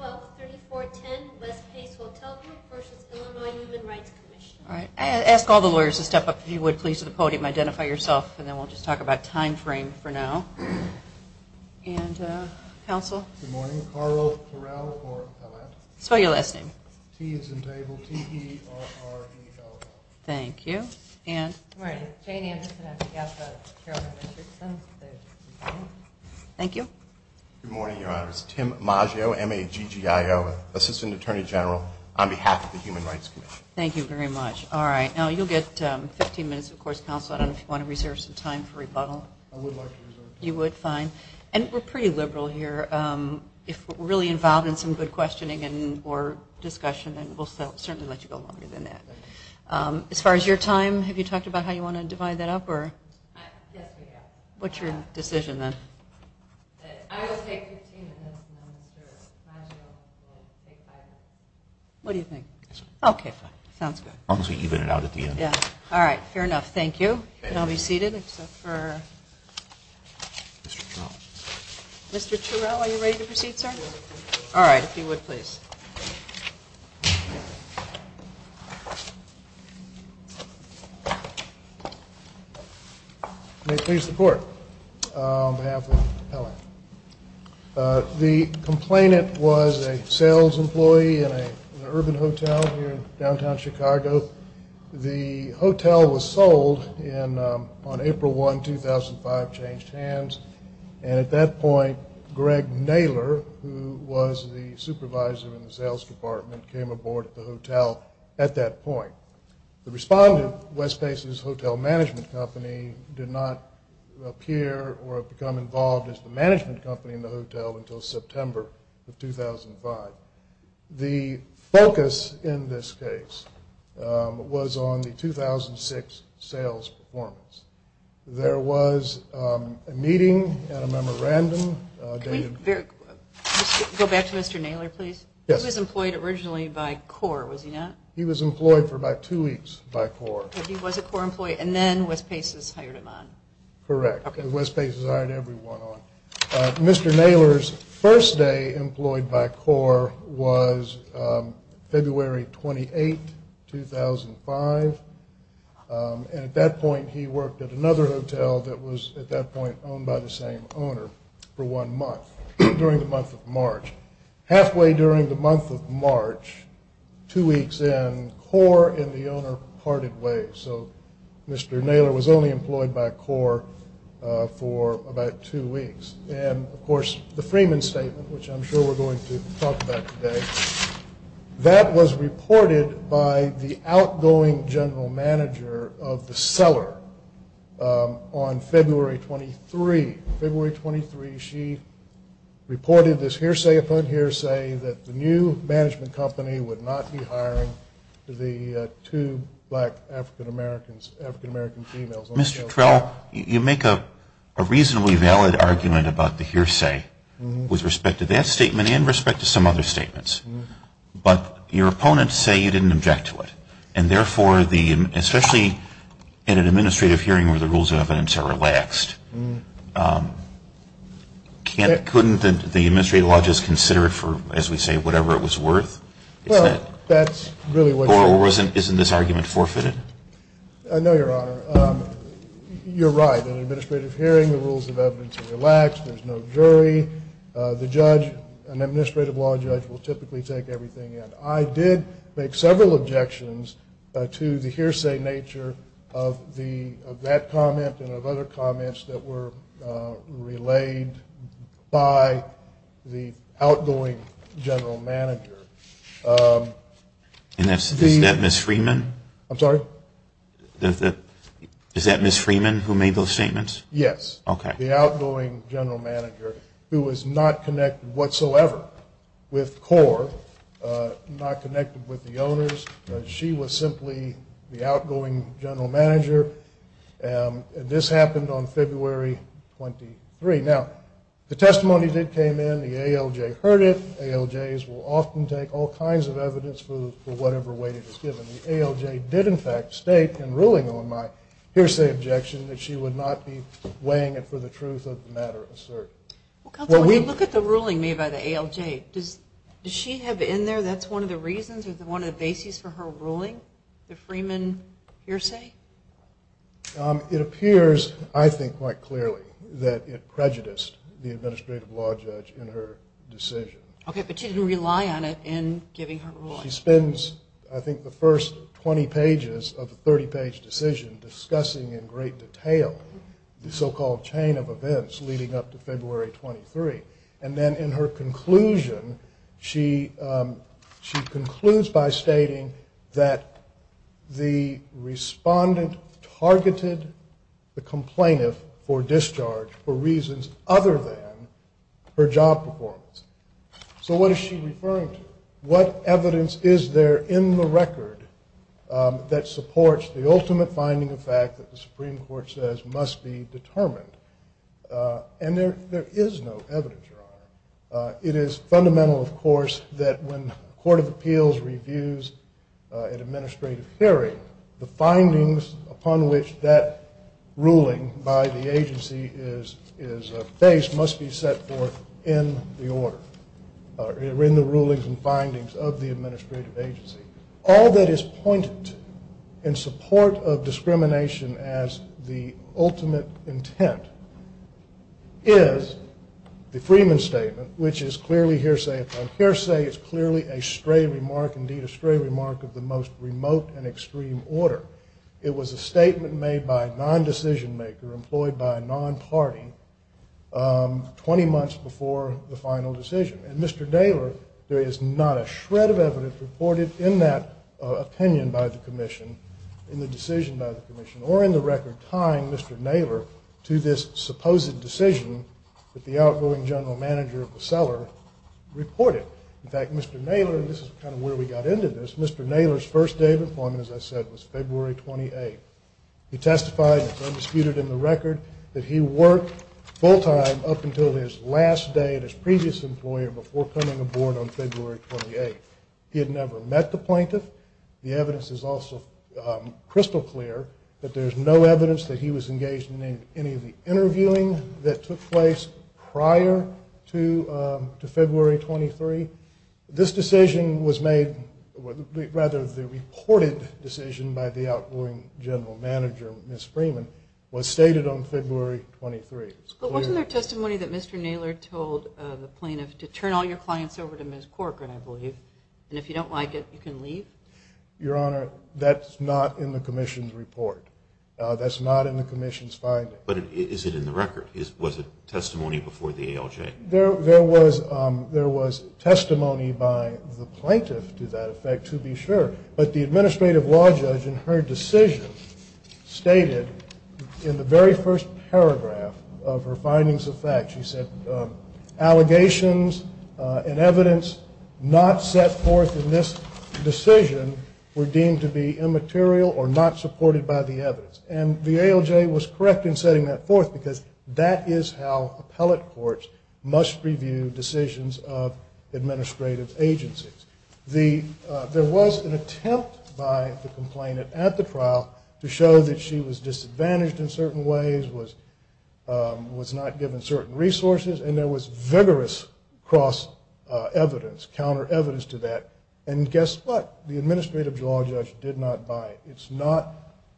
All right, ask all the lawyers to step up if you would, please, to the podium. Identify yourself, and then we'll just talk about time frame for now. And, uh, counsel? Good morning. Carl Corral for Atlanta. Spell your last name. T is in table. T-E-R-R-E-L-L-A-T-E. Thank you. And? Good morning. Jane Anderson, I'm the CAF of Carolyn Richardson's, the DCP. Thank you. Good morning, Your Honor. It's Tim Maggio, M-A-G-G-I-O, Assistant Attorney General on behalf of the Human Rights Commission. Thank you very much. All right. Now, you'll get 15 minutes, of course, counsel. I don't know if you want to reserve some time for rebuttal. I would like to reserve time. You would? Fine. And we're pretty liberal here. Um, if we're really involved in some good questioning and, or discussion, then we'll certainly let you go longer than that. Um, as far as your time, have you talked about how you want to divide that up, or? Yes, we have. What's your decision, then? I will take 15 minutes, and then Mr. Maggio will take five minutes. What do you think? Okay, fine. Sounds good. As long as we even it out at the end. Yeah. All right. Fair enough. Thank you. And I'll be seated, except for Mr. Turrell. Mr. Turrell, are you ready to proceed, sir? Yes, I am. All right. If you would, please. May it please the court, on behalf of Helen. Uh, the complainant was a sales employee in an urban hotel here in downtown Chicago. The hotel was sold in, um, on April 1, 2005, changed hands. And at that point, Greg Naylor, who was the supervisor in the sales department, came aboard at the hotel at that point. The respondent, West Faces Hotel Management Company, did not appear or become involved as the management company in the hotel until September of 2005. The focus in this case, um, was on the 2006 sales performance. There was, um, a meeting and a memorandum. Can we go back to Mr. Naylor, please? Yes. He was employed originally by CORE, was he not? He was employed for about two weeks by CORE. But he was a CORE employee, and then West Faces hired him on. Correct. Okay. West Faces hired everyone on. Uh, Mr. Naylor's first day employed by CORE was, um, February 28, 2005. Um, and at that point, he worked at another hotel that was, at that point, owned by the same owner for one month, during the month of March. Halfway during the month of March, two weeks in, CORE and the owner parted ways. So, Mr. Naylor was only employed by CORE, uh, for about two weeks. And, of course, the Freeman Statement, which I'm sure we're going to talk about today, that was reported by the outgoing general manager of the cellar, um, on February 23. February 23, she reported this hearsay upon hearsay that the new management company would not be hiring the, uh, two black African-Americans, African-American females. Mr. Trell, you make a reasonably valid argument about the hearsay with respect to that statement and respect to some other statements. But your opponents say you didn't object to it. And, therefore, the, especially in an administrative hearing where the rules of evidence are relaxed, um, can't, couldn't the administrative law just consider it for, as we say, whatever it was worth? Well, that's really what you're saying. Or isn't this argument forfeited? No, Your Honor. You're right. In an administrative hearing, the rules of evidence are relaxed. There's no jury. The judge, an administrative law judge, will typically take everything in. I did make several objections to the hearsay nature of the, of that comment and of other comments that were, uh, relayed by the outgoing general manager. Um. And is that Ms. Freeman? I'm sorry? Is that Ms. Freeman who made those statements? Yes. Okay. Ms. Freeman, the outgoing general manager, who was not connected whatsoever with CORE, not connected with the owners. She was simply the outgoing general manager. And this happened on February 23. Now, the testimony that came in, the ALJ heard it. ALJs will often take all kinds of evidence for whatever weight it is given. And the ALJ did, in fact, state in ruling on my hearsay objection that she would not be weighing it for the truth of the matter asserted. Well, counsel, when you look at the ruling made by the ALJ, does she have in there that's one of the reasons or one of the bases for her ruling, the Freeman hearsay? Um, it appears, I think quite clearly, that it prejudiced the administrative law judge in her decision. Okay. But she didn't rely on it in giving her ruling. She spends, I think, the first 20 pages of the 30-page decision discussing in great detail the so-called chain of events leading up to February 23. And then in her conclusion, she concludes by stating that the respondent targeted the complainant for discharge for reasons other than her job performance. So what is she referring to? What evidence is there in the record that supports the ultimate finding of fact that the Supreme Court says must be determined? And there is no evidence, Your Honor. It is fundamental, of course, that when a court of appeals reviews an administrative hearing, the findings upon which that ruling by the agency is based must be set forth in the order, or in the rulings and findings of the administrative agency. All that is pointed to in support of discrimination as the ultimate intent is the Freeman statement, which is clearly hearsay. And hearsay is clearly a stray remark, indeed a stray remark, of the most remote and extreme order. It was a statement made by a non-decision maker, employed by a non-party, 20 months before the final decision. And Mr. Naylor, there is not a shred of evidence reported in that opinion by the commission, in the decision by the commission, or in the record tying Mr. Naylor to this supposed decision that the outgoing general manager of the cellar reported. In fact, Mr. Naylor, and this is kind of where we got into this, Mr. Naylor's first day of employment, as I said, was February 28th. He testified, it's undisputed in the record, that he worked full time up until his last day at his previous employer before coming aboard on February 28th. He had never met the plaintiff. The evidence is also crystal clear that there's no evidence that he was engaged in any of the interviewing that took place prior to February 23. This decision was made, rather the reported decision by the outgoing general manager, Ms. Freeman, was stated on February 23. But wasn't there testimony that Mr. Naylor told the plaintiff to turn all your clients over to Ms. Corcoran, I believe, and if you don't like it, you can leave? Your Honor, that's not in the commission's report. That's not in the commission's finding. But is it in the record? Was it testimony before the ALJ? There was testimony by the plaintiff to that effect, to be sure. But the administrative law judge in her decision stated in the very first paragraph of her findings of fact, she said, allegations and evidence not set forth in this decision were deemed to be immaterial or not supported by the evidence. And the ALJ was correct in setting that forth because that is how appellate courts must review decisions of administrative agencies. There was an attempt by the complainant at the trial to show that she was disadvantaged in certain ways, was not given certain resources, and there was vigorous cross-evidence, counter-evidence to that. And guess what? The administrative law judge did not buy it. It's not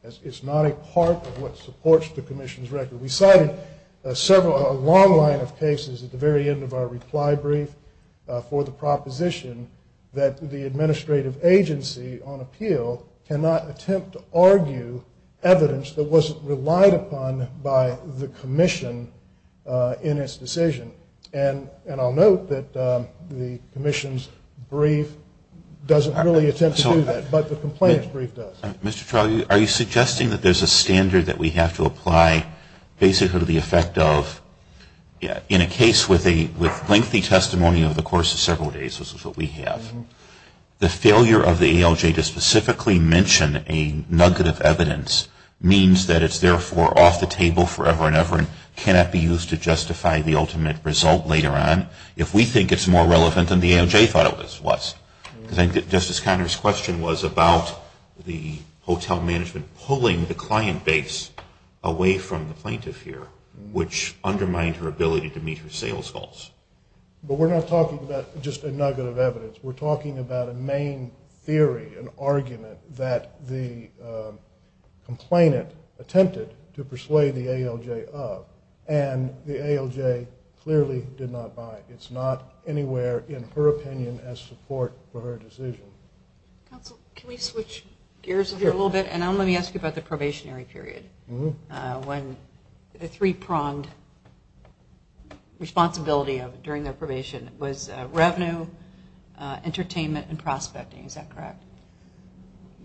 a part of what supports the commission's record. We cited a long line of cases at the very end of our reply brief for the proposition that the administrative agency on appeal cannot attempt to argue evidence that wasn't relied upon by the commission in its decision. And I'll note that the commission's brief doesn't really attempt to do that, but the complainant's brief does. Mr. Trawley, are you suggesting that there's a standard that we have to apply basically to the effect of, in a case with lengthy testimony over the course of several days, which is what we have, the failure of the ALJ to specifically mention a nugget of evidence means that it's therefore off the table forever and ever and cannot be used to justify the ultimate result later on if we think it's more relevant than the ALJ thought it was. Because I think that Justice Conner's question was about the hotel management pulling the client base away from the plaintiff here, which undermined her ability to meet her sales goals. But we're not talking about just a nugget of evidence. We're talking about a main theory, an argument that the complainant attempted to persuade the ALJ of, and the ALJ clearly did not buy it. It's not anywhere in her opinion as support for her decision. Counsel, can we switch gears here a little bit? And let me ask you about the probationary period, when the three-pronged responsibility during their probation was revenue, entertainment, and prospecting. Is that correct?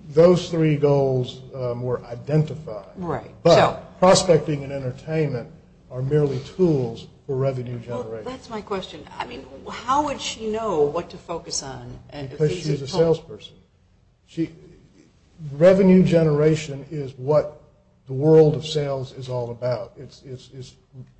Those three goals were identified. Right. But prospecting and entertainment are merely tools for revenue generation. That's my question. I mean, how would she know what to focus on? Because she's a salesperson. Revenue generation is what the world of sales is all about. It's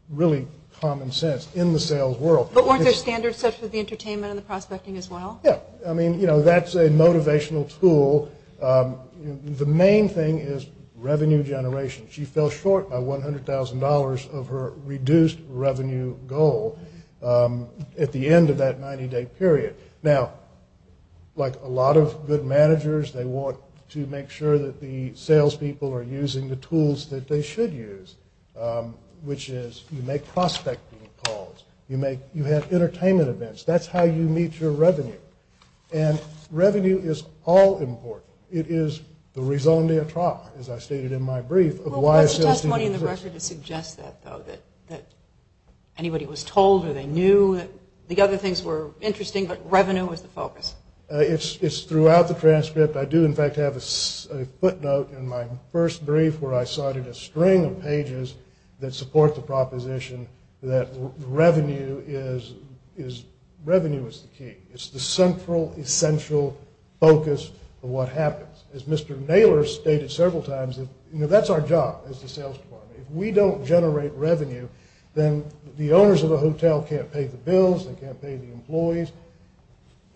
really common sense in the sales world. But weren't there standards set for the entertainment and the prospecting as well? Yeah. I mean, you know, that's a motivational tool. The main thing is revenue generation. She fell short by $100,000 of her reduced revenue goal at the end of that 90-day period. Now, like a lot of good managers, they want to make sure that the salespeople are using the tools that they should use, which is you make prospecting calls. You have entertainment events. That's how you meet your revenue. And revenue is all important. It is the raison d'etre, as I stated in my brief. What's the testimony in the record that suggests that, though, that anybody was told or they knew that the other things were interesting, but revenue was the focus? It's throughout the transcript. I do, in fact, have a footnote in my first brief where I cited a string of pages that support the proposition that revenue is the key. It's the central, essential focus of what happens. As Mr. Naylor stated several times, you know, that's our job as the sales department. If we don't generate revenue, then the owners of the hotel can't pay the bills, they can't pay the employees.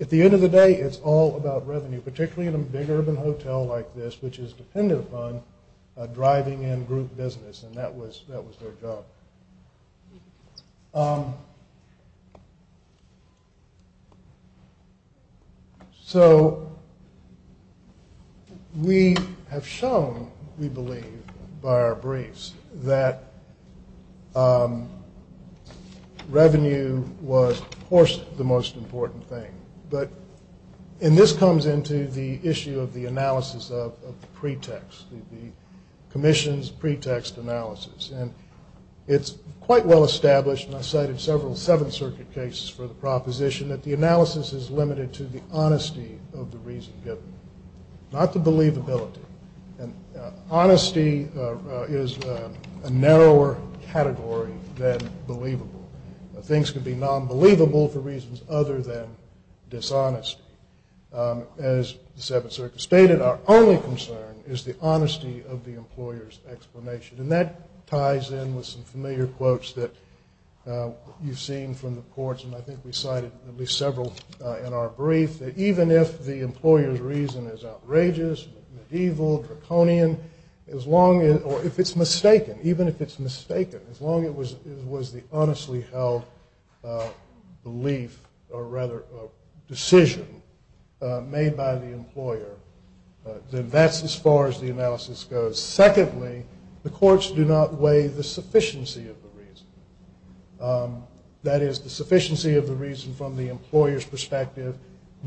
At the end of the day, it's all about revenue, particularly in a big urban hotel like this, which is dependent upon driving in group business, and that was their job. So we have shown, we believe, by our briefs, that revenue was, of course, the most important thing. And this comes into the issue of the analysis of the pretext, the commission's pretext analysis. And it's quite well established, and I cited several Seventh Circuit cases for the proposition, that the analysis is limited to the honesty of the reason given, not the believability. Honesty is a narrower category than believable. Things can be non-believable for reasons other than dishonesty. As the Seventh Circuit stated, our only concern is the honesty of the employer's explanation. And that ties in with some familiar quotes that you've seen from the courts, and I think we cited at least several in our brief, that even if the employer's reason is outrageous, medieval, draconian, or if it's mistaken, even if it's mistaken, as long as it was the honestly held belief or rather decision made by the employer, then that's as far as the analysis goes. Secondly, the courts do not weigh the sufficiency of the reason. That is, the sufficiency of the reason from the employer's perspective,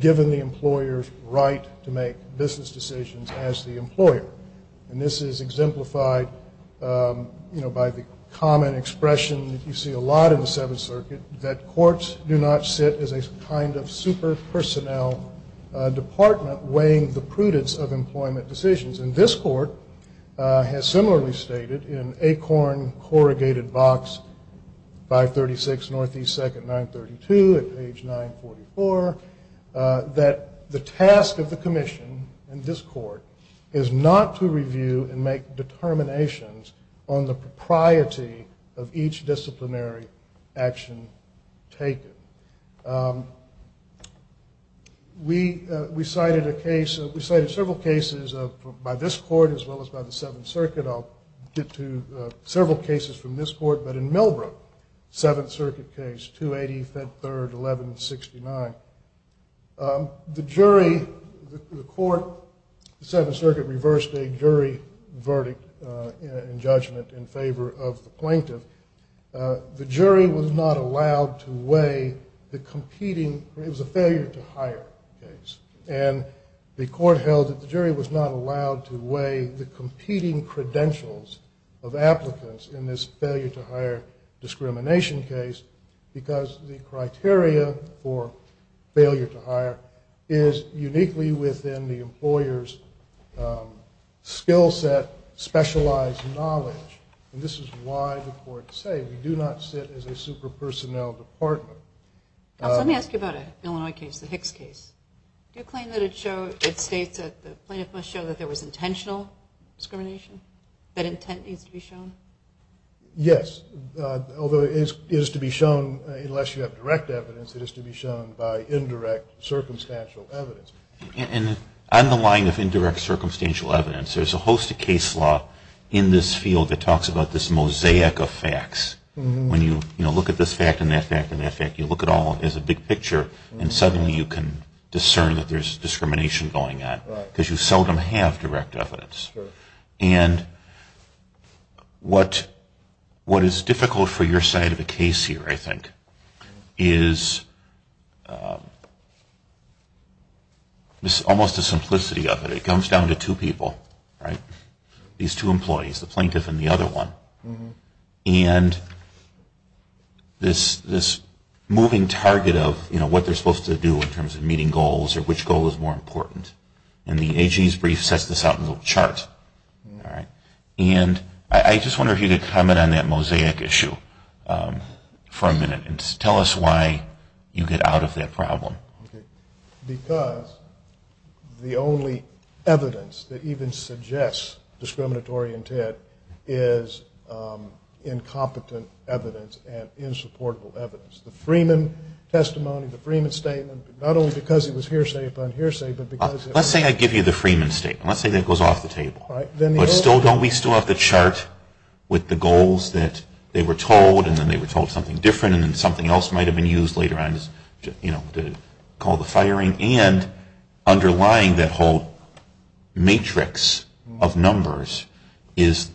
given the employer's right to make business decisions as the employer. And this is exemplified by the common expression that you see a lot in the Seventh Circuit, that courts do not sit as a kind of super-personnel department weighing the prudence of employment decisions. And this court has similarly stated in Acorn, Corrugated Box, 536 Northeast 2nd, 932 at page 944, that the task of the commission in this court is not to review and make determinations on the propriety of each disciplinary action taken. We cited several cases by this court as well as by the Seventh Circuit. I'll get to several cases from this court. But in Millbrook, Seventh Circuit case, 280, Fed Third, 1169, the jury, the court, the Seventh Circuit reversed a jury verdict in judgment in favor of the plaintiff. The jury was not allowed to weigh the competing, it was a failure to hire case. And the court held that the jury was not allowed to weigh the competing credentials of applicants in this failure to hire discrimination case because the criteria for failure to hire is uniquely within the employer's skill set, specialized knowledge. And this is why the courts say we do not sit as a super-personnel department. Let me ask you about an Illinois case, the Hicks case. Do you claim that it states that the plaintiff must show that there was intentional discrimination? That intent needs to be shown? Yes, although it is to be shown, unless you have direct evidence, it is to be shown by indirect circumstantial evidence. And on the line of indirect circumstantial evidence, there's a host of case law in this field that talks about this mosaic of facts. When you look at this fact and that fact and that fact, you look at it all as a big picture and suddenly you can discern that there's discrimination going on because you seldom have direct evidence. And what is difficult for your side of the case here, I think, is almost the simplicity of it. It comes down to two people, these two employees, the plaintiff and the other one. And this moving target of what they're supposed to do in terms of meeting goals or which goal is more important. And the AG's brief sets this out in a little chart. And I just wonder if you could comment on that mosaic issue for a minute and tell us why you get out of that problem. Because the only evidence that even suggests discriminatory intent is incompetent evidence and insupportable evidence. The Freeman testimony, the Freeman statement, not only because it was hearsay upon hearsay, but because it was hearsay upon hearsay. Let's say I give you the Freeman statement. Let's say that goes off the table. But still, don't we still have to chart with the goals that they were told and then they were told something different and then something else might have been used later on to call the firing? And underlying that whole matrix of numbers is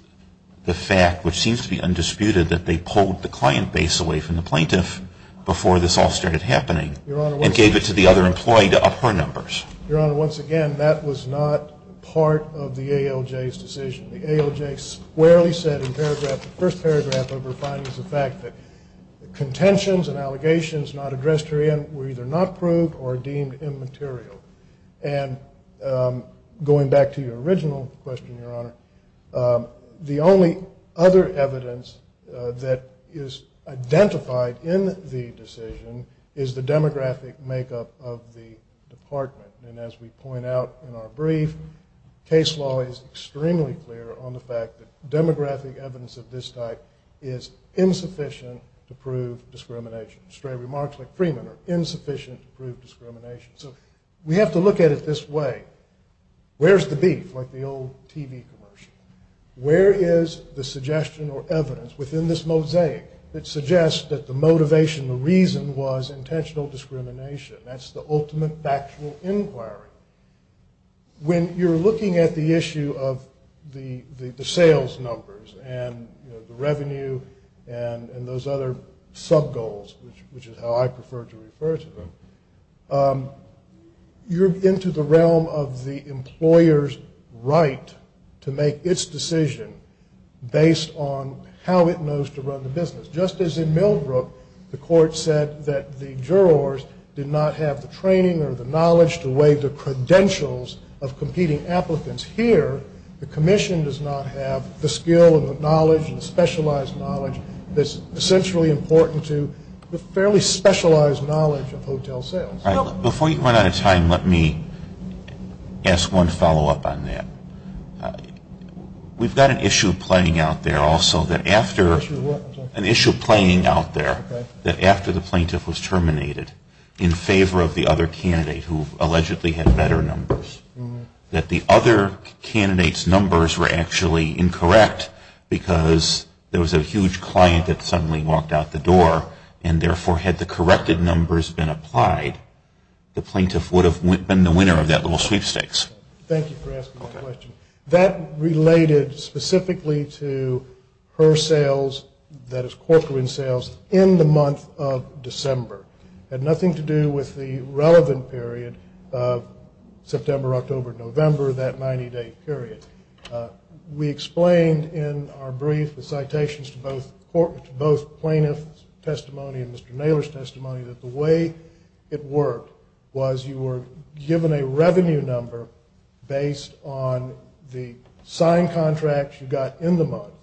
the fact, which seems to be undisputed, that they pulled the client base away from the plaintiff before this all started happening and gave it to the other employee to up her numbers. Your Honor, once again, that was not part of the ALJ's decision. The ALJ squarely said in the first paragraph of her findings the fact that contentions and allegations not addressed herein were either not proved or deemed immaterial. And going back to your original question, Your Honor, the only other evidence that is identified in the decision is the demographic makeup of the department. And as we point out in our brief, case law is extremely clear on the fact that demographic evidence of this type is insufficient to prove discrimination. Stray remarks like Freeman are insufficient to prove discrimination. So we have to look at it this way. Where's the beef, like the old TV commercial? Where is the suggestion or evidence within this mosaic that suggests that the motivation, the reason was intentional discrimination? That's the ultimate factual inquiry. When you're looking at the issue of the sales numbers and the revenue and those other subgoals, which is how I prefer to refer to them, you're into the realm of the employer's right to make its decision based on how it knows to run the business. Just as in Millbrook, the court said that the jurors did not have the training or the knowledge to weigh the credentials of competing applicants here, the commission does not have the skill and the knowledge and the specialized knowledge that's essentially important to the fairly specialized knowledge of hotel sales. Before you run out of time, let me ask one follow-up on that. We've got an issue playing out there also that after the plaintiff was terminated in favor of the other candidate who allegedly had better numbers, that the other candidate's numbers were actually incorrect because there was a huge client that suddenly walked out the door and therefore had the corrected numbers been applied, the plaintiff would have been the winner of that little sweepstakes. Thank you for asking that question. That related specifically to her sales, that is Corcoran sales, in the month of December. It had nothing to do with the relevant period of September, October, November, that 90-day period. We explained in our brief the citations to both plaintiff's testimony and Mr. Naylor's testimony that the way it worked was you were given a revenue number based on the signed contract you got in the month.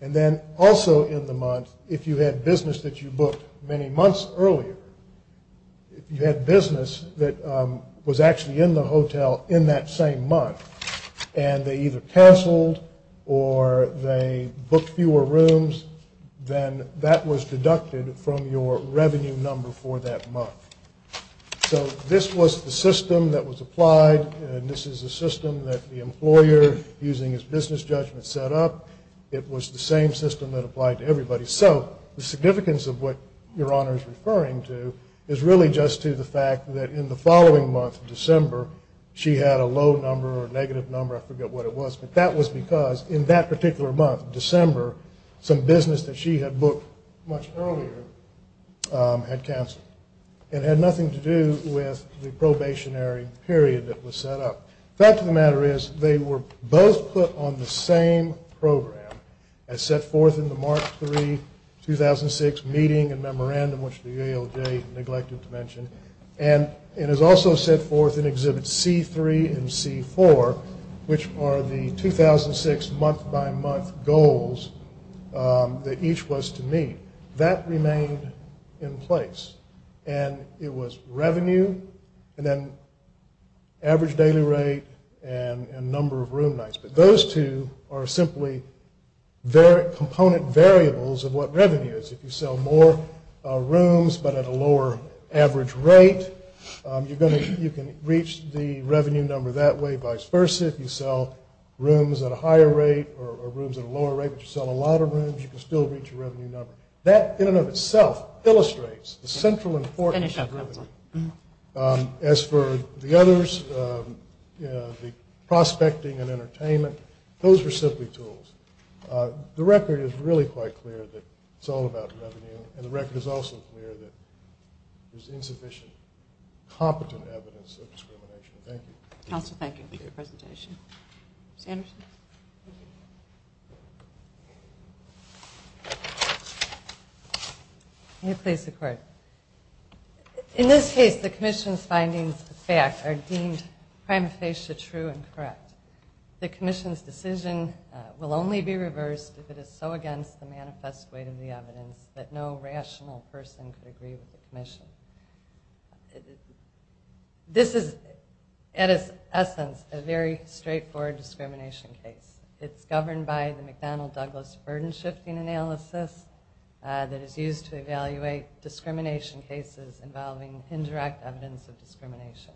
And then also in the month, if you had business that you booked many months earlier, if you had business that was actually in the hotel in that same month and they either canceled or they booked fewer rooms, then that was deducted from your revenue number for that month. So this was the system that was applied, and this is the system that the employer, using his business judgment, set up. It was the same system that applied to everybody. So the significance of what Your Honor is referring to is really just to the fact that in the following month, December, she had a low number or a negative number, I forget what it was, but that was because in that particular month, December, some business that she had booked much earlier had canceled. It had nothing to do with the probationary period that was set up. The fact of the matter is they were both put on the same program as set forth in the March 3, 2006 meeting and memorandum, which the ALJ neglected to mention, and it is also set forth in Exhibits C3 and C4, which are the 2006 month-by-month goals that each was to meet. That remained in place. And it was revenue and then average daily rate and number of room nights. But those two are simply component variables of what revenue is. If you sell more rooms but at a lower average rate, you can reach the revenue number that way, vice versa. If you sell rooms at a higher rate or rooms at a lower rate, but you sell a lot of rooms, you can still reach a revenue number. That in and of itself illustrates the central importance of revenue. As for the others, the prospecting and entertainment, those are simply tools. The record is really quite clear that it's all about revenue, and the record is also clear that there's insufficient competent evidence of discrimination. Thank you. Counsel, thank you for your presentation. Ms. Anderson? May it please the Court. In this case, the Commission's findings of fact are deemed prima facie true and correct. The Commission's decision will only be reversed if it is so against the manifest weight of the evidence that no rational person could agree with the Commission. This is, at its essence, a very straightforward discrimination case. It's governed by the McDonnell-Douglas burden-shifting analysis that is used to evaluate discrimination cases involving indirect evidence of discrimination.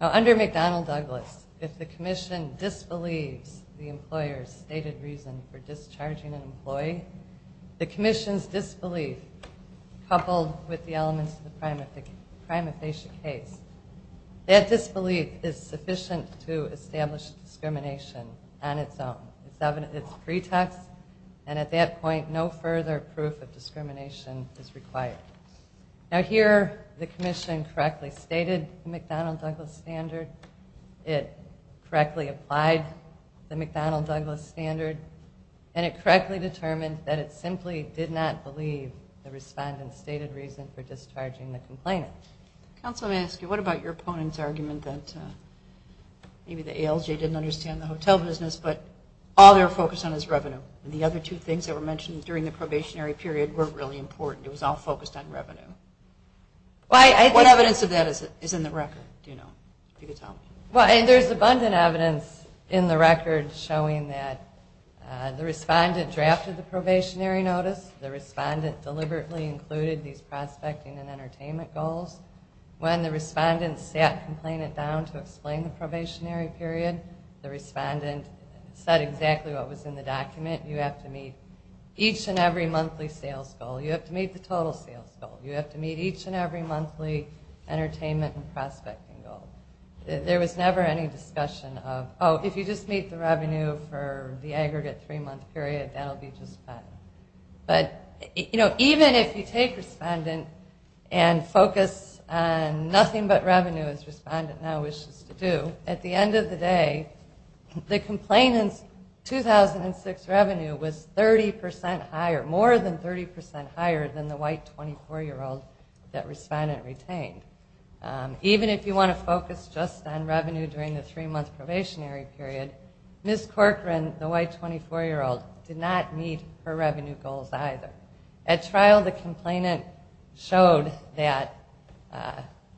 Under McDonnell-Douglas, if the Commission disbelieves the employer's stated reason for discharging an employee, the Commission's disbelief, coupled with the elements of the prima facie case, that disbelief is sufficient to establish discrimination on its own. It's pretext, and at that point, no further proof of discrimination is required. Now here, the Commission correctly stated the McDonnell-Douglas standard. It correctly applied the McDonnell-Douglas standard, and it correctly determined that it simply did not believe the respondent's stated reason for discharging the complainant. Counsel, may I ask you, what about your opponent's argument that maybe the ALJ didn't understand the hotel business, but all they were focused on was revenue, and the other two things that were mentioned during the probationary period were really important. It was all focused on revenue. What evidence of that is in the record? There's abundant evidence in the record showing that the respondent drafted the probationary notice, the respondent deliberately included these prospecting and entertainment goals. When the respondent sat complainant down to explain the probationary period, the respondent said exactly what was in the document. You have to meet each and every monthly sales goal. You have to meet the total sales goal. You have to meet each and every monthly entertainment and prospecting goal. There was never any discussion of, oh, if you just meet the revenue for the aggregate three-month period, that will be just fine. But, you know, even if you take respondent and focus on nothing but revenue, as respondent now wishes to do, at the end of the day, the complainant's 2006 revenue was 30% higher, more than 30% higher than the white 24-year-old that respondent retained. Even if you want to focus just on revenue during the three-month probationary period, Ms. Corcoran, the white 24-year-old, did not meet her revenue goals either. At trial, the complainant showed that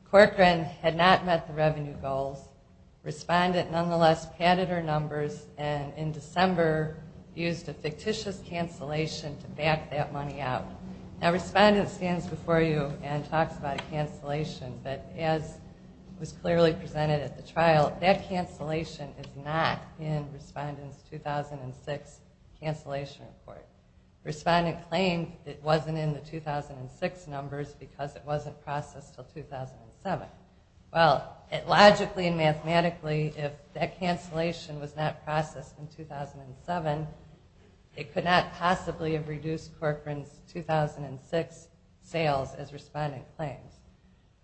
Corcoran had not met the revenue goals. Respondent, nonetheless, padded her numbers, and in December used a fictitious cancellation to back that money out. Now, respondent stands before you and talks about a cancellation, but as was clearly presented at the trial, that cancellation is not in respondent's 2006 cancellation report. Respondent claimed it wasn't in the 2006 numbers because it wasn't processed until 2007. Well, logically and mathematically, if that cancellation was not processed in 2007, it could not possibly have reduced Corcoran's 2006 sales as respondent claims.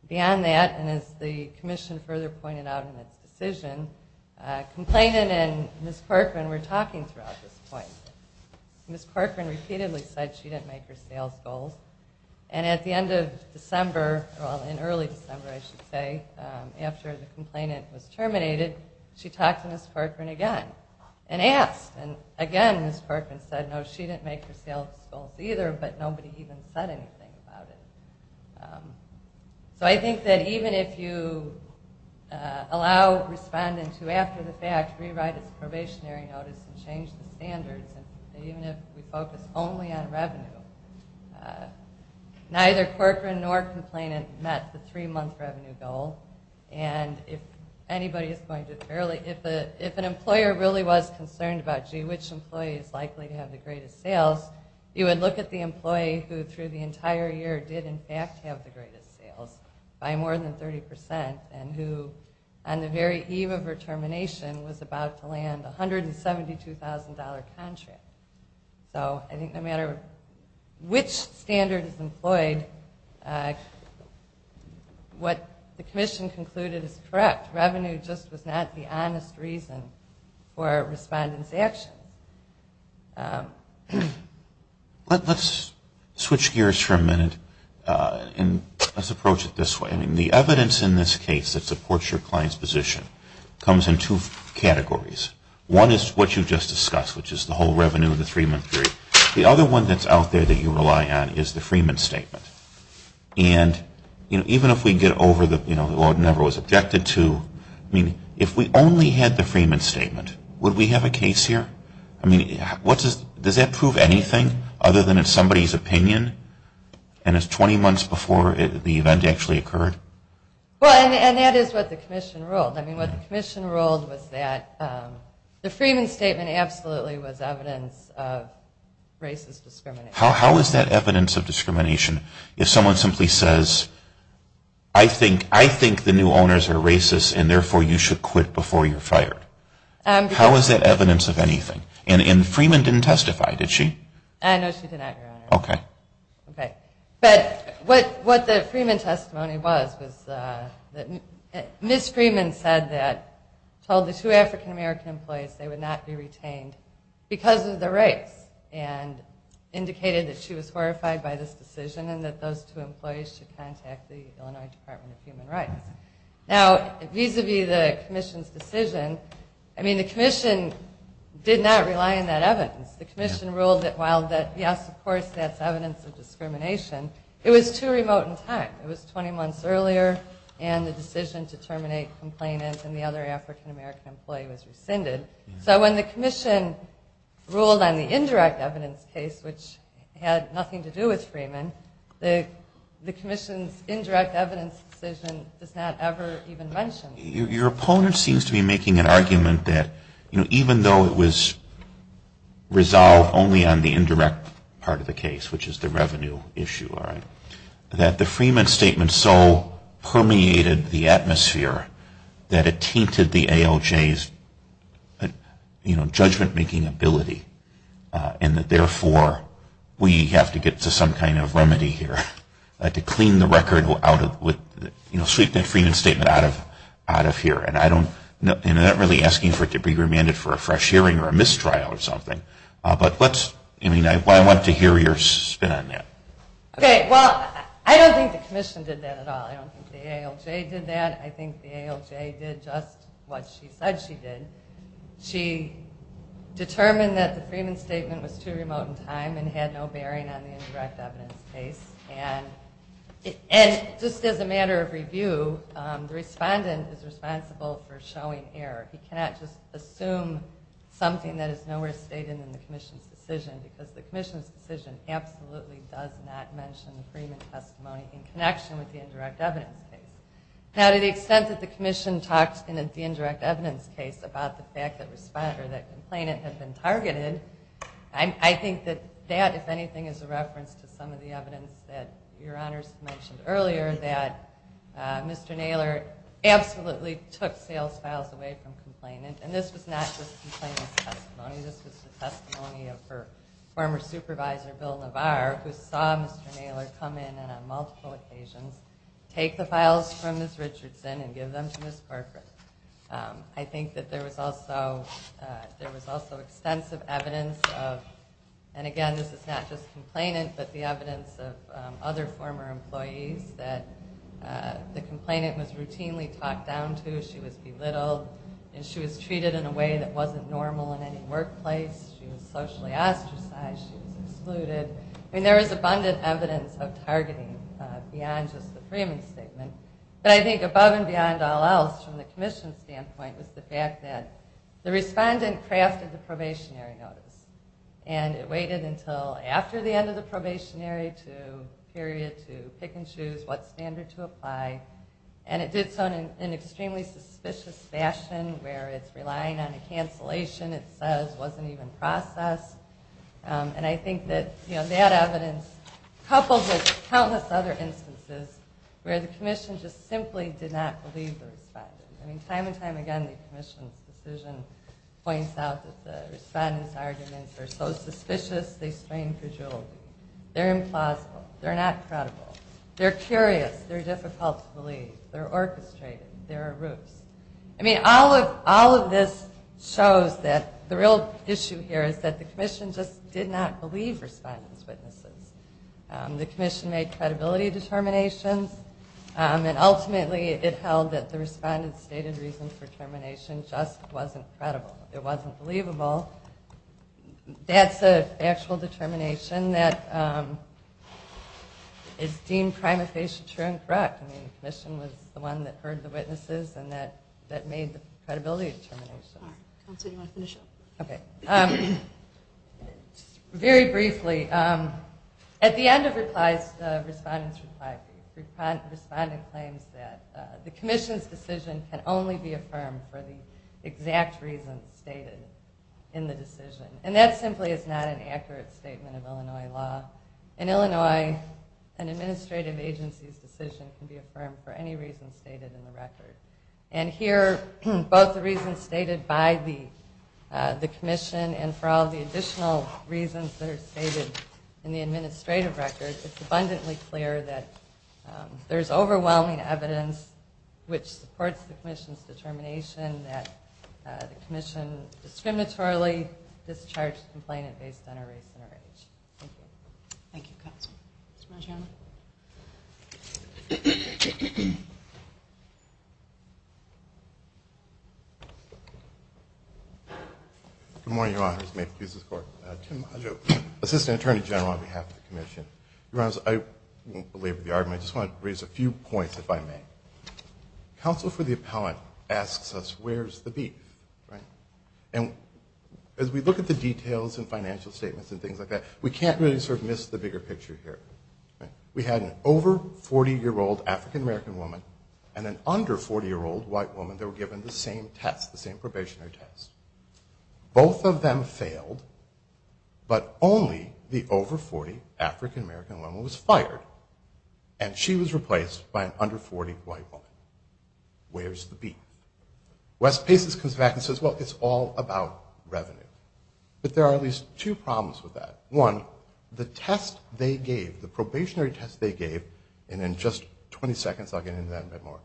Beyond that, and as the commission further pointed out in its decision, complainant and Ms. Corcoran were talking throughout this point. Ms. Corcoran repeatedly said she didn't make her sales goals, and at the end of December, well, in early December, I should say, after the complainant was terminated, she talked to Ms. Corcoran again and asked, and again Ms. Corcoran said, no, she didn't make her sales goals either, but nobody even said anything about it. So I think that even if you allow respondent to, after the fact, rewrite its probationary notice and change the standards, and even if we focus only on revenue, neither Corcoran nor complainant met the three-month revenue goal, and if anybody is going to fairly, if an employer really was concerned about, gee, which employee is likely to have the greatest sales, you would look at the employee who, through the entire year, did in fact have the greatest sales by more than 30%, and who on the very eve of her termination was about to land a $172,000 contract. So I think no matter which standard is employed, what the commission concluded is correct. Revenue just was not the honest reason for a respondent's actions. Let's switch gears for a minute and let's approach it this way. The evidence in this case that supports your client's position comes in two categories. One is what you just discussed, which is the whole revenue in the three-month period. The other one that's out there that you rely on is the Freeman Statement, and even if we get over the, well, it never was objected to, I mean, if we only had the Freeman Statement, would we have a case here? I mean, does that prove anything other than it's somebody's opinion, and it's 20 months before the event actually occurred? Well, and that is what the commission ruled. I mean, what the commission ruled was that the Freeman Statement absolutely was evidence of racist discrimination. How is that evidence of discrimination if someone simply says, I think the new owners are racist, and therefore you should quit before you're fired? How is that evidence of anything? And Freeman didn't testify, did she? No, she did not, Your Honor. Okay. But what the Freeman testimony was was that Ms. Freeman said that, told the two African-American employees they would not be retained because of their race and indicated that she was horrified by this decision and that those two employees should contact the Illinois Department of Human Rights. Now, vis-a-vis the commission's decision, I mean, the commission did not rely on that evidence. The commission ruled that while, yes, of course, that's evidence of discrimination, it was too remote in time. It was 20 months earlier and the decision to terminate complainants and the other African-American employee was rescinded. So when the commission ruled on the indirect evidence case, which had nothing to do with Freeman, the commission's indirect evidence decision does not ever even mention that. Your opponent seems to be making an argument that even though it was resolved only on the indirect part of the case, which is the revenue issue, that the Freeman statement so permeated the atmosphere that it tainted the ALJ's judgment-making ability and that therefore we have to get to some kind of remedy here to sweep the Freeman statement out of here. And I'm not really asking for it to be remanded for a fresh hearing or a mistrial or something. But I want to hear your spin on that. Okay, well, I don't think the commission did that at all. I don't think the ALJ did that. I think the ALJ did just what she said she did. She determined that the Freeman statement was too remote in time and had no bearing on the indirect evidence case. And just as a matter of review, the respondent is responsible for showing error. He cannot just assume something that is nowhere stated in the commission's decision because the commission's decision absolutely does not mention the Freeman testimony in connection with the indirect evidence case. Now, to the extent that the commission talked in the indirect evidence case about the fact that the complainant had been targeted, I think that that, if anything, is a reference to some of the evidence that Your Honors mentioned earlier that Mr. Naylor absolutely took sales files away from the complainant. And this was not just the complainant's testimony. This was the testimony of her former supervisor, Bill Navar, who saw Mr. Naylor come in on multiple occasions, take the files from Ms. Richardson and give them to Ms. Corcoran. I think that there was also extensive evidence of, and again, this is not just complainant, but the evidence of other former employees that the complainant was routinely talked down to, she was belittled, and she was treated in a way that wasn't normal in any workplace. She was socially ostracized. She was excluded. I mean, there is abundant evidence of targeting beyond just the Freeman statement. But I think above and beyond all else, from the commission's standpoint, was the fact that the respondent crafted the probationary notice, and it waited until after the end of the probationary period to pick and choose what standard to apply. And it did so in an extremely suspicious fashion, where it's relying on a cancellation it says wasn't even processed. And I think that that evidence, coupled with countless other instances where the commission just simply did not believe the respondent. I mean, time and time again the commission's decision points out that the respondent's arguments are so suspicious, they strain credulity. They're implausible. They're not credible. They're curious. They're difficult to believe. They're orchestrated. They're a ruse. I mean, all of this shows that the real issue here is that the commission just did not believe respondent's witnesses. The commission made credibility determinations, and ultimately it held that the respondent's stated reason for termination just wasn't credible. It wasn't believable. That's an actual determination that is deemed prima facie true and correct. I mean, the commission was the one that heard the witnesses, and that made the credibility determination. All right. Counsel, do you want to finish up? Okay. Very briefly. At the end of the respondent's reply brief, the respondent claims that the commission's decision can only be affirmed for the exact reason stated in the decision, and that simply is not an accurate statement of Illinois law. In Illinois, an administrative agency's decision can be affirmed for any reason stated in the record, and here both the reasons stated by the commission and for all the additional reasons that are stated in the administrative record, it's abundantly clear that there's overwhelming evidence which supports the commission's determination that the commission discriminatorily discharged the complainant based on her race and her age. Thank you. Thank you, Counsel. Mr. Maggio. Good morning, Your Honors. May it please the Court. Tim Maggio, Assistant Attorney General on behalf of the commission. Your Honors, I won't belabor the argument. I just want to raise a few points, if I may. Counsel for the appellant asks us, where's the beef, right? And as we look at the details and financial statements and things like that, we can't really sort of miss the bigger picture here. We had an over-40-year-old African-American woman and an under-40-year-old white woman that were given the same test, the same probationary test. Both of them failed, but only the over-40 African-American woman was fired, and she was replaced by an under-40 white woman. Where's the beef? Wes Paces comes back and says, well, it's all about revenue. But there are at least two problems with that. One, the test they gave, the probationary test they gave, and in just 20 seconds I'll get into that a bit more,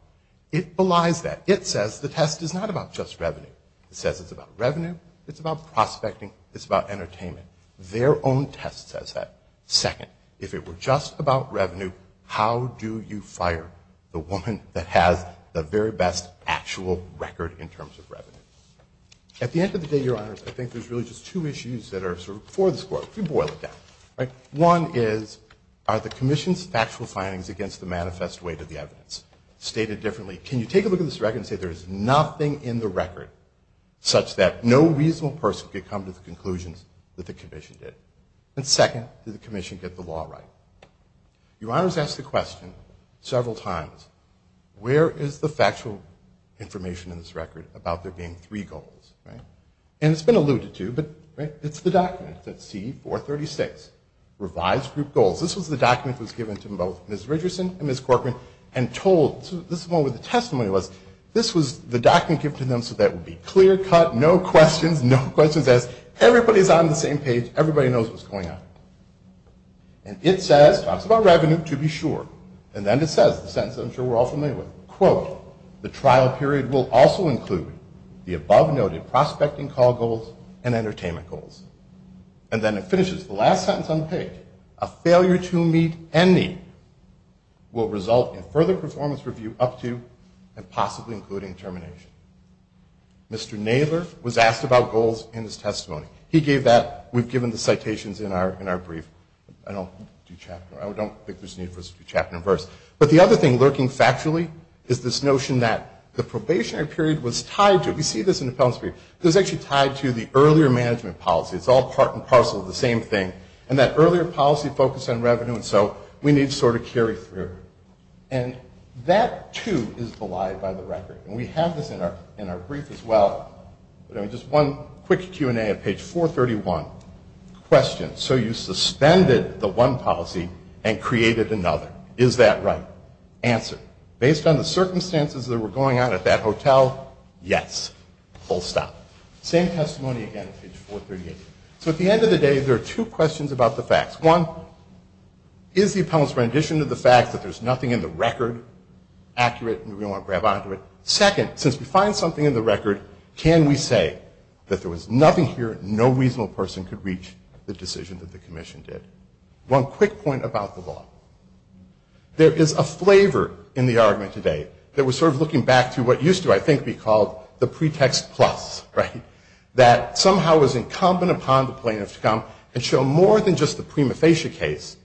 it belies that. It says the test is not about just revenue. It says it's about revenue, it's about prospecting, it's about entertainment. Their own test says that. Second, if it were just about revenue, how do you fire the woman that has the very best actual record in terms of revenue? At the end of the day, Your Honors, I think there's really just two issues that are sort of before this court. If we boil it down. One is, are the Commission's factual findings against the manifest weight of the evidence stated differently? Can you take a look at this record and say there is nothing in the record such that no reasonable person could come to the conclusions that the Commission did? And second, did the Commission get the law right? Your Honors asked the question several times, where is the factual information in this record about there being three goals? And it's been alluded to, but it's the document. It's at C-436. Revised Group Goals. This was the document that was given to both Ms. Richardson and Ms. Corcoran and told, this is the one where the testimony was. This was the document given to them so that it would be clear cut, no questions, no questions asked. Everybody's on the same page. Everybody knows what's going on. And it says, it talks about revenue to be sure. And then it says, the sentence I'm sure we're all familiar with, quote, the trial period will also include the above noted prospecting call goals and entertainment goals. And then it finishes, the last sentence on the page, a failure to meet any will result in further performance review up to and possibly including termination. Mr. Naylor was asked about goals in his testimony. He gave that. We've given the citations in our brief. I don't think there's a need for us to do chapter and verse. But the other thing lurking factually is this notion that the probationary period was tied to it. We see this in the penalty period. It was actually tied to the earlier management policy. It's all part and parcel of the same thing. And that earlier policy focused on revenue, and so we need to sort of carry through. And that, too, is belied by the record. And we have this in our brief as well. Just one quick Q&A at page 431. Question. So you suspended the one policy and created another. Is that right? Answer. Based on the circumstances that were going on at that hotel, yes. Full stop. Same testimony again at page 438. So at the end of the day, there are two questions about the facts. One, is the appellant's rendition of the fact that there's nothing in the record accurate? We don't want to grab onto it. Second, since we find something in the record, can we say that there was nothing here and no reasonable person could reach the decision that the commission did? One quick point about the law. There is a flavor in the argument today that we're sort of looking back to what used to, I think, be called the pretext plus, right, that somehow was incumbent upon the plaintiff to come and show more than just the prima facie case,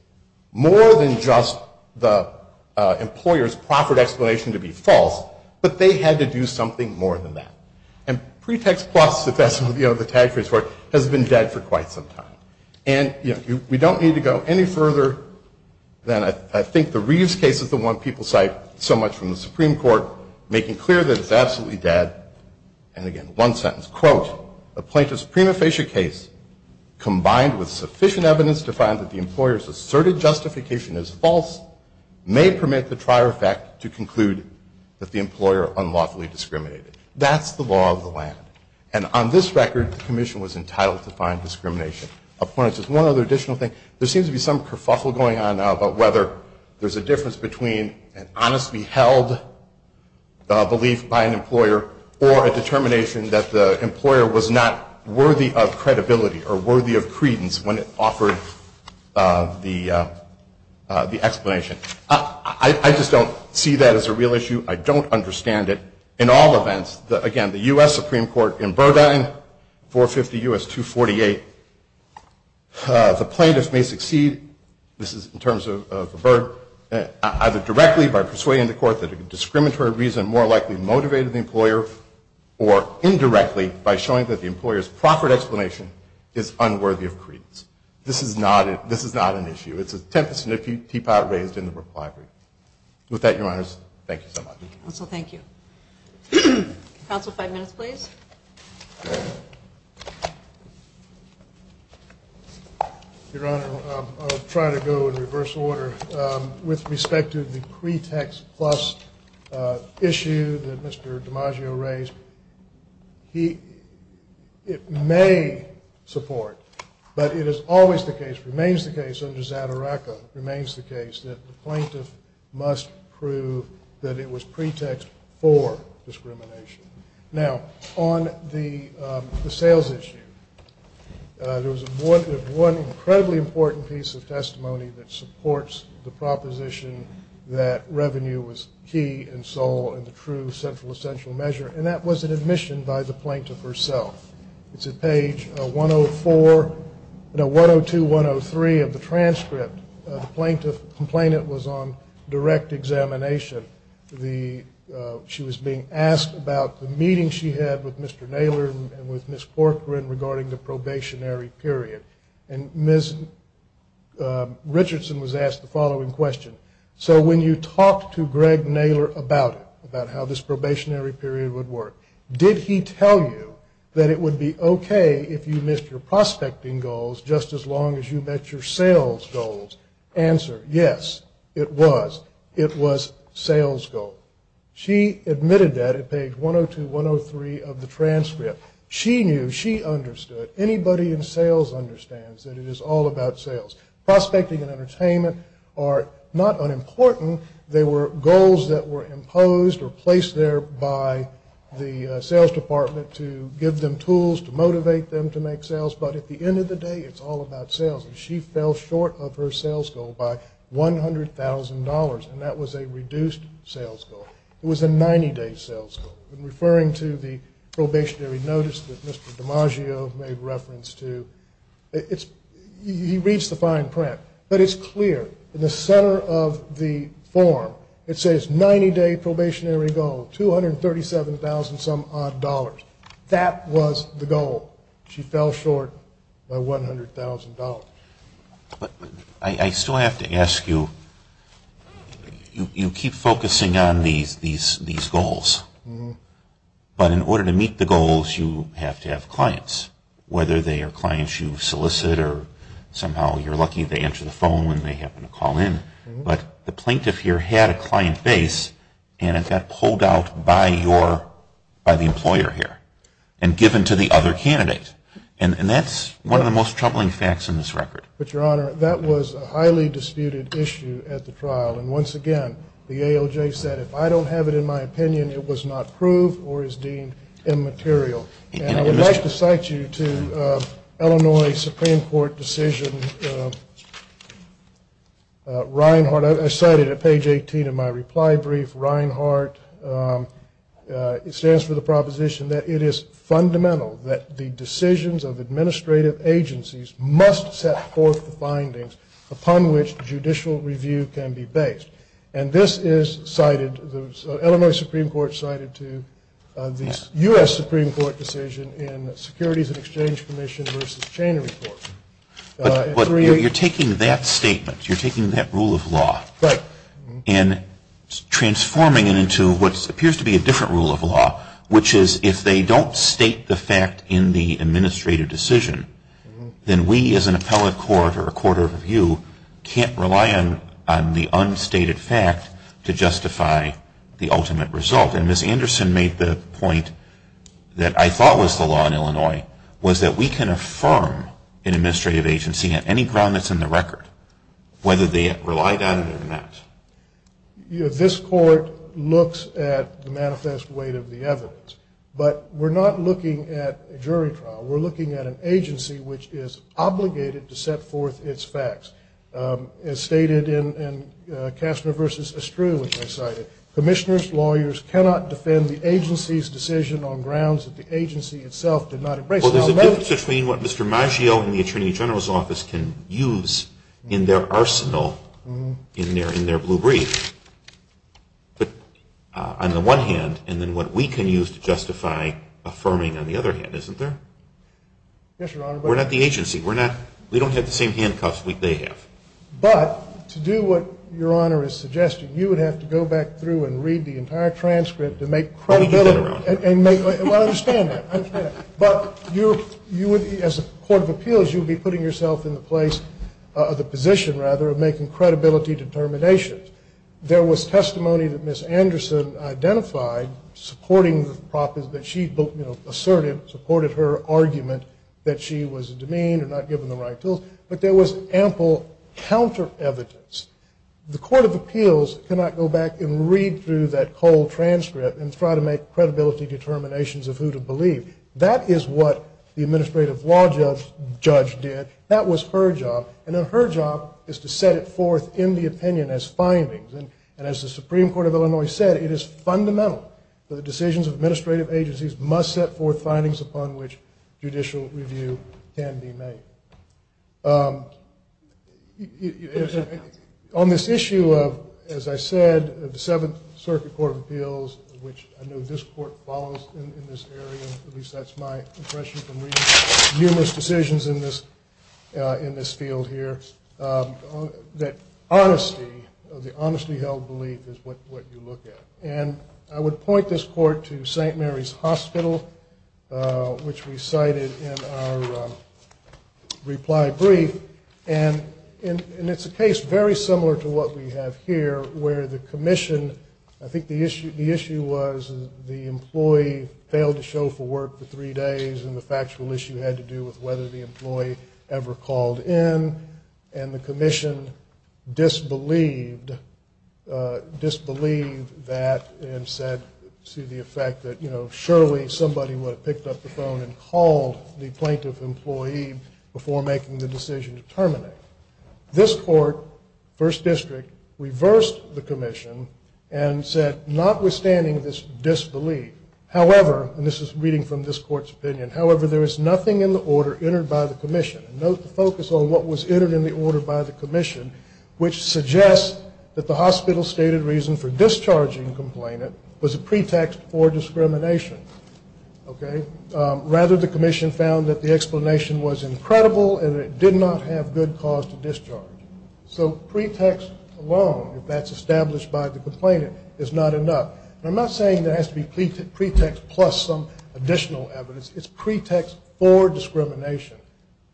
more than just the employer's proffered explanation to be false, but they had to do something more than that. And pretext plus, if that's the tag phrase for it, has been dead for quite some time. And we don't need to go any further than I think the Reeves case is the one people cite so much from the Supreme Court, making clear that it's absolutely dead. And again, one sentence, quote, a plaintiff's prima facie case combined with sufficient evidence to find that the employer's asserted justification is false may permit the trier effect to conclude that the employer unlawfully discriminated. That's the law of the land. And on this record, the commission was entitled to find discrimination. One other additional thing, there seems to be some kerfuffle going on now about whether there's a difference between an honestly held belief by an employer or a determination that the employer was not worthy of credibility or worthy of credence when it offered the explanation. I just don't see that as a real issue. I don't understand it. In all events, again, the U.S. Supreme Court in Burdine, 450 U.S. 248, the plaintiff may succeed, this is in terms of the Burdine, either directly by persuading the court that a discriminatory reason more likely motivated the employer or indirectly by showing that the employer's proper explanation is unworthy of credence. This is not an issue. It's a tempest and a teapot raised in the Brook Library. With that, Your Honors, thank you so much. Counsel, thank you. Counsel, five minutes, please. Your Honor, I'll try to go in reverse order. With respect to the pretext plus issue that Mr. DiMaggio raised, it may support, but it is always the case, remains the case under Zadaraka, remains the case, that the plaintiff must prove that it was pretext for discrimination. Now, on the sales issue, there's one incredibly important piece of testimony that supports the proposition that revenue was key in Seoul in the true central essential measure, and that was an admission by the plaintiff herself. It's at page 104, no, 102, 103 of the transcript. The plaintiff complainant was on direct examination. She was being asked about the meeting she had with Mr. Naylor and with Ms. Corcoran regarding the probationary period. And Ms. Richardson was asked the following question, so when you talked to Greg Naylor about it, about how this probationary period would work, did he tell you that it would be okay if you missed your prospecting goals just as long as you met your sales goals? Answer, yes, it was. She admitted that at page 102, 103 of the transcript. She knew, she understood, anybody in sales understands that it is all about sales. Prospecting and entertainment are not unimportant. They were goals that were imposed or placed there by the sales department to give them tools to motivate them to make sales, but at the end of the day, it's all about sales, and she fell short of her sales goal by $100,000, and that was a reduced sales goal. It was a 90-day sales goal. I'm referring to the probationary notice that Mr. DiMaggio made reference to. He reads the fine print, but it's clear. In the center of the form, it says 90-day probationary goal, 237,000-some-odd dollars. That was the goal. She fell short by $100,000. I still have to ask you, you keep focusing on these goals, but in order to meet the goals, you have to have clients, whether they are clients you solicit or somehow you're lucky they answer the phone when they happen to call in, but the plaintiff here had a client base, and it got pulled out by the employer here and given to the other candidate, and that's one of the most troubling facts in this record. But, Your Honor, that was a highly disputed issue at the trial, and once again, the AOJ said if I don't have it in my opinion, it was not proved or is deemed immaterial, and I would like to cite you to Illinois Supreme Court decision Reinhart. I cited it at page 18 of my reply brief. Reinhart, it stands for the proposition that it is fundamental that the decisions of administrative agencies must set forth the findings upon which judicial review can be based, and this is cited, Illinois Supreme Court cited to the U.S. Supreme Court decision in the Securities and Exchange Commission versus Cheney Report. But you're taking that statement, you're taking that rule of law and transforming it into what appears to be a different rule of law, which is if they don't state the fact in the administrative decision, then we as an appellate court or a court of review can't rely on the unstated fact to justify the ultimate result, and Ms. Anderson made the point that I thought was the law in Illinois, was that we can affirm an administrative agency on any ground that's in the record, whether they rely on it or not. This court looks at the manifest weight of the evidence, but we're not looking at a jury trial. We're looking at an agency which is obligated to set forth its facts. As stated in Kastner versus Estrue, which I cited, lawyers cannot defend the agency's decision on grounds that the agency itself did not embrace. Well, there's a difference between what Mr. Maggio and the attorney general's office can use in their arsenal, in their blue brief, on the one hand, and then what we can use to justify affirming on the other hand, isn't there? Yes, Your Honor. We're not the agency. We don't have the same handcuffs they have. But to do what Your Honor is suggesting, you would have to go back through and read the entire transcript to make credibility. Well, I understand that. I understand that. But you would, as a court of appeals, you would be putting yourself in the place, the position, rather, of making credibility determinations. There was testimony that Ms. Anderson identified supporting the proposal, that she asserted, supported her argument that she was demeaned or not given the right tools, but there was ample counter evidence. The court of appeals cannot go back and read through that cold transcript and try to make credibility determinations of who to believe. That is what the administrative law judge did. That was her job. And her job is to set it forth in the opinion as findings. And as the Supreme Court of Illinois said, it is fundamental that the decisions of administrative agencies must set forth findings upon which judicial review can be made. On this issue of, as I said, the Seventh Circuit Court of Appeals, which I know this court follows in this area, at least that's my impression from reading numerous decisions in this field here, that honesty, the honestly held belief is what you look at. And I would point this court to St. Mary's Hospital, which we cited in our reply brief. And it's a case very similar to what we have here where the commission, I think the issue was the employee failed to show for work for three days and the factual issue had to do with whether the employee ever called in. And the commission disbelieved that and said to the effect that, you know, surely somebody would have picked up the phone and called the plaintiff employee before making the decision to terminate. This court, first district, reversed the commission and said notwithstanding this disbelief, however, and this is reading from this court's opinion, however, there is nothing in the order entered by the commission. Note the focus on what was entered in the order by the commission, which suggests that the hospital stated reason for discharging the complainant was a pretext for discrimination. Okay. Rather, the commission found that the explanation was incredible and it did not have good cause to discharge. So pretext alone, if that's established by the complainant, is not enough. I'm not saying there has to be pretext plus some additional evidence. It's pretext for discrimination.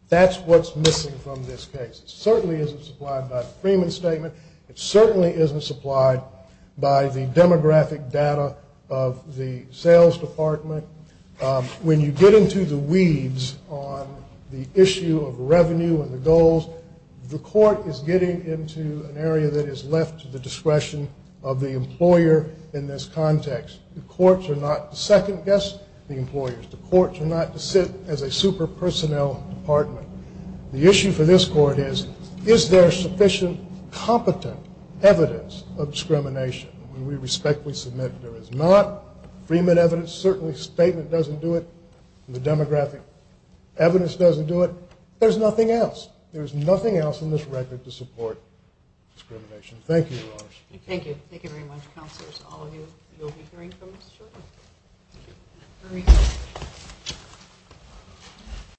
That's what's missing from this case. It certainly isn't supplied by the Freeman Statement. It certainly isn't supplied by the demographic data of the sales department. When you get into the weeds on the issue of revenue and the goals, the court is getting into an area that is left to the discretion of the employer in this context. The courts are not to second-guess the employers. The courts are not to sit as a super personnel department. The issue for this court is, is there sufficient competent evidence of discrimination? We respectfully submit there is not. Freeman evidence certainly statement doesn't do it. The demographic evidence doesn't do it. There's nothing else. There's nothing else in this record to support discrimination. Thank you, Your Honor. Thank you. Thank you very much, Counselors. All of you, you'll be hearing from us shortly. Thank you. Very good.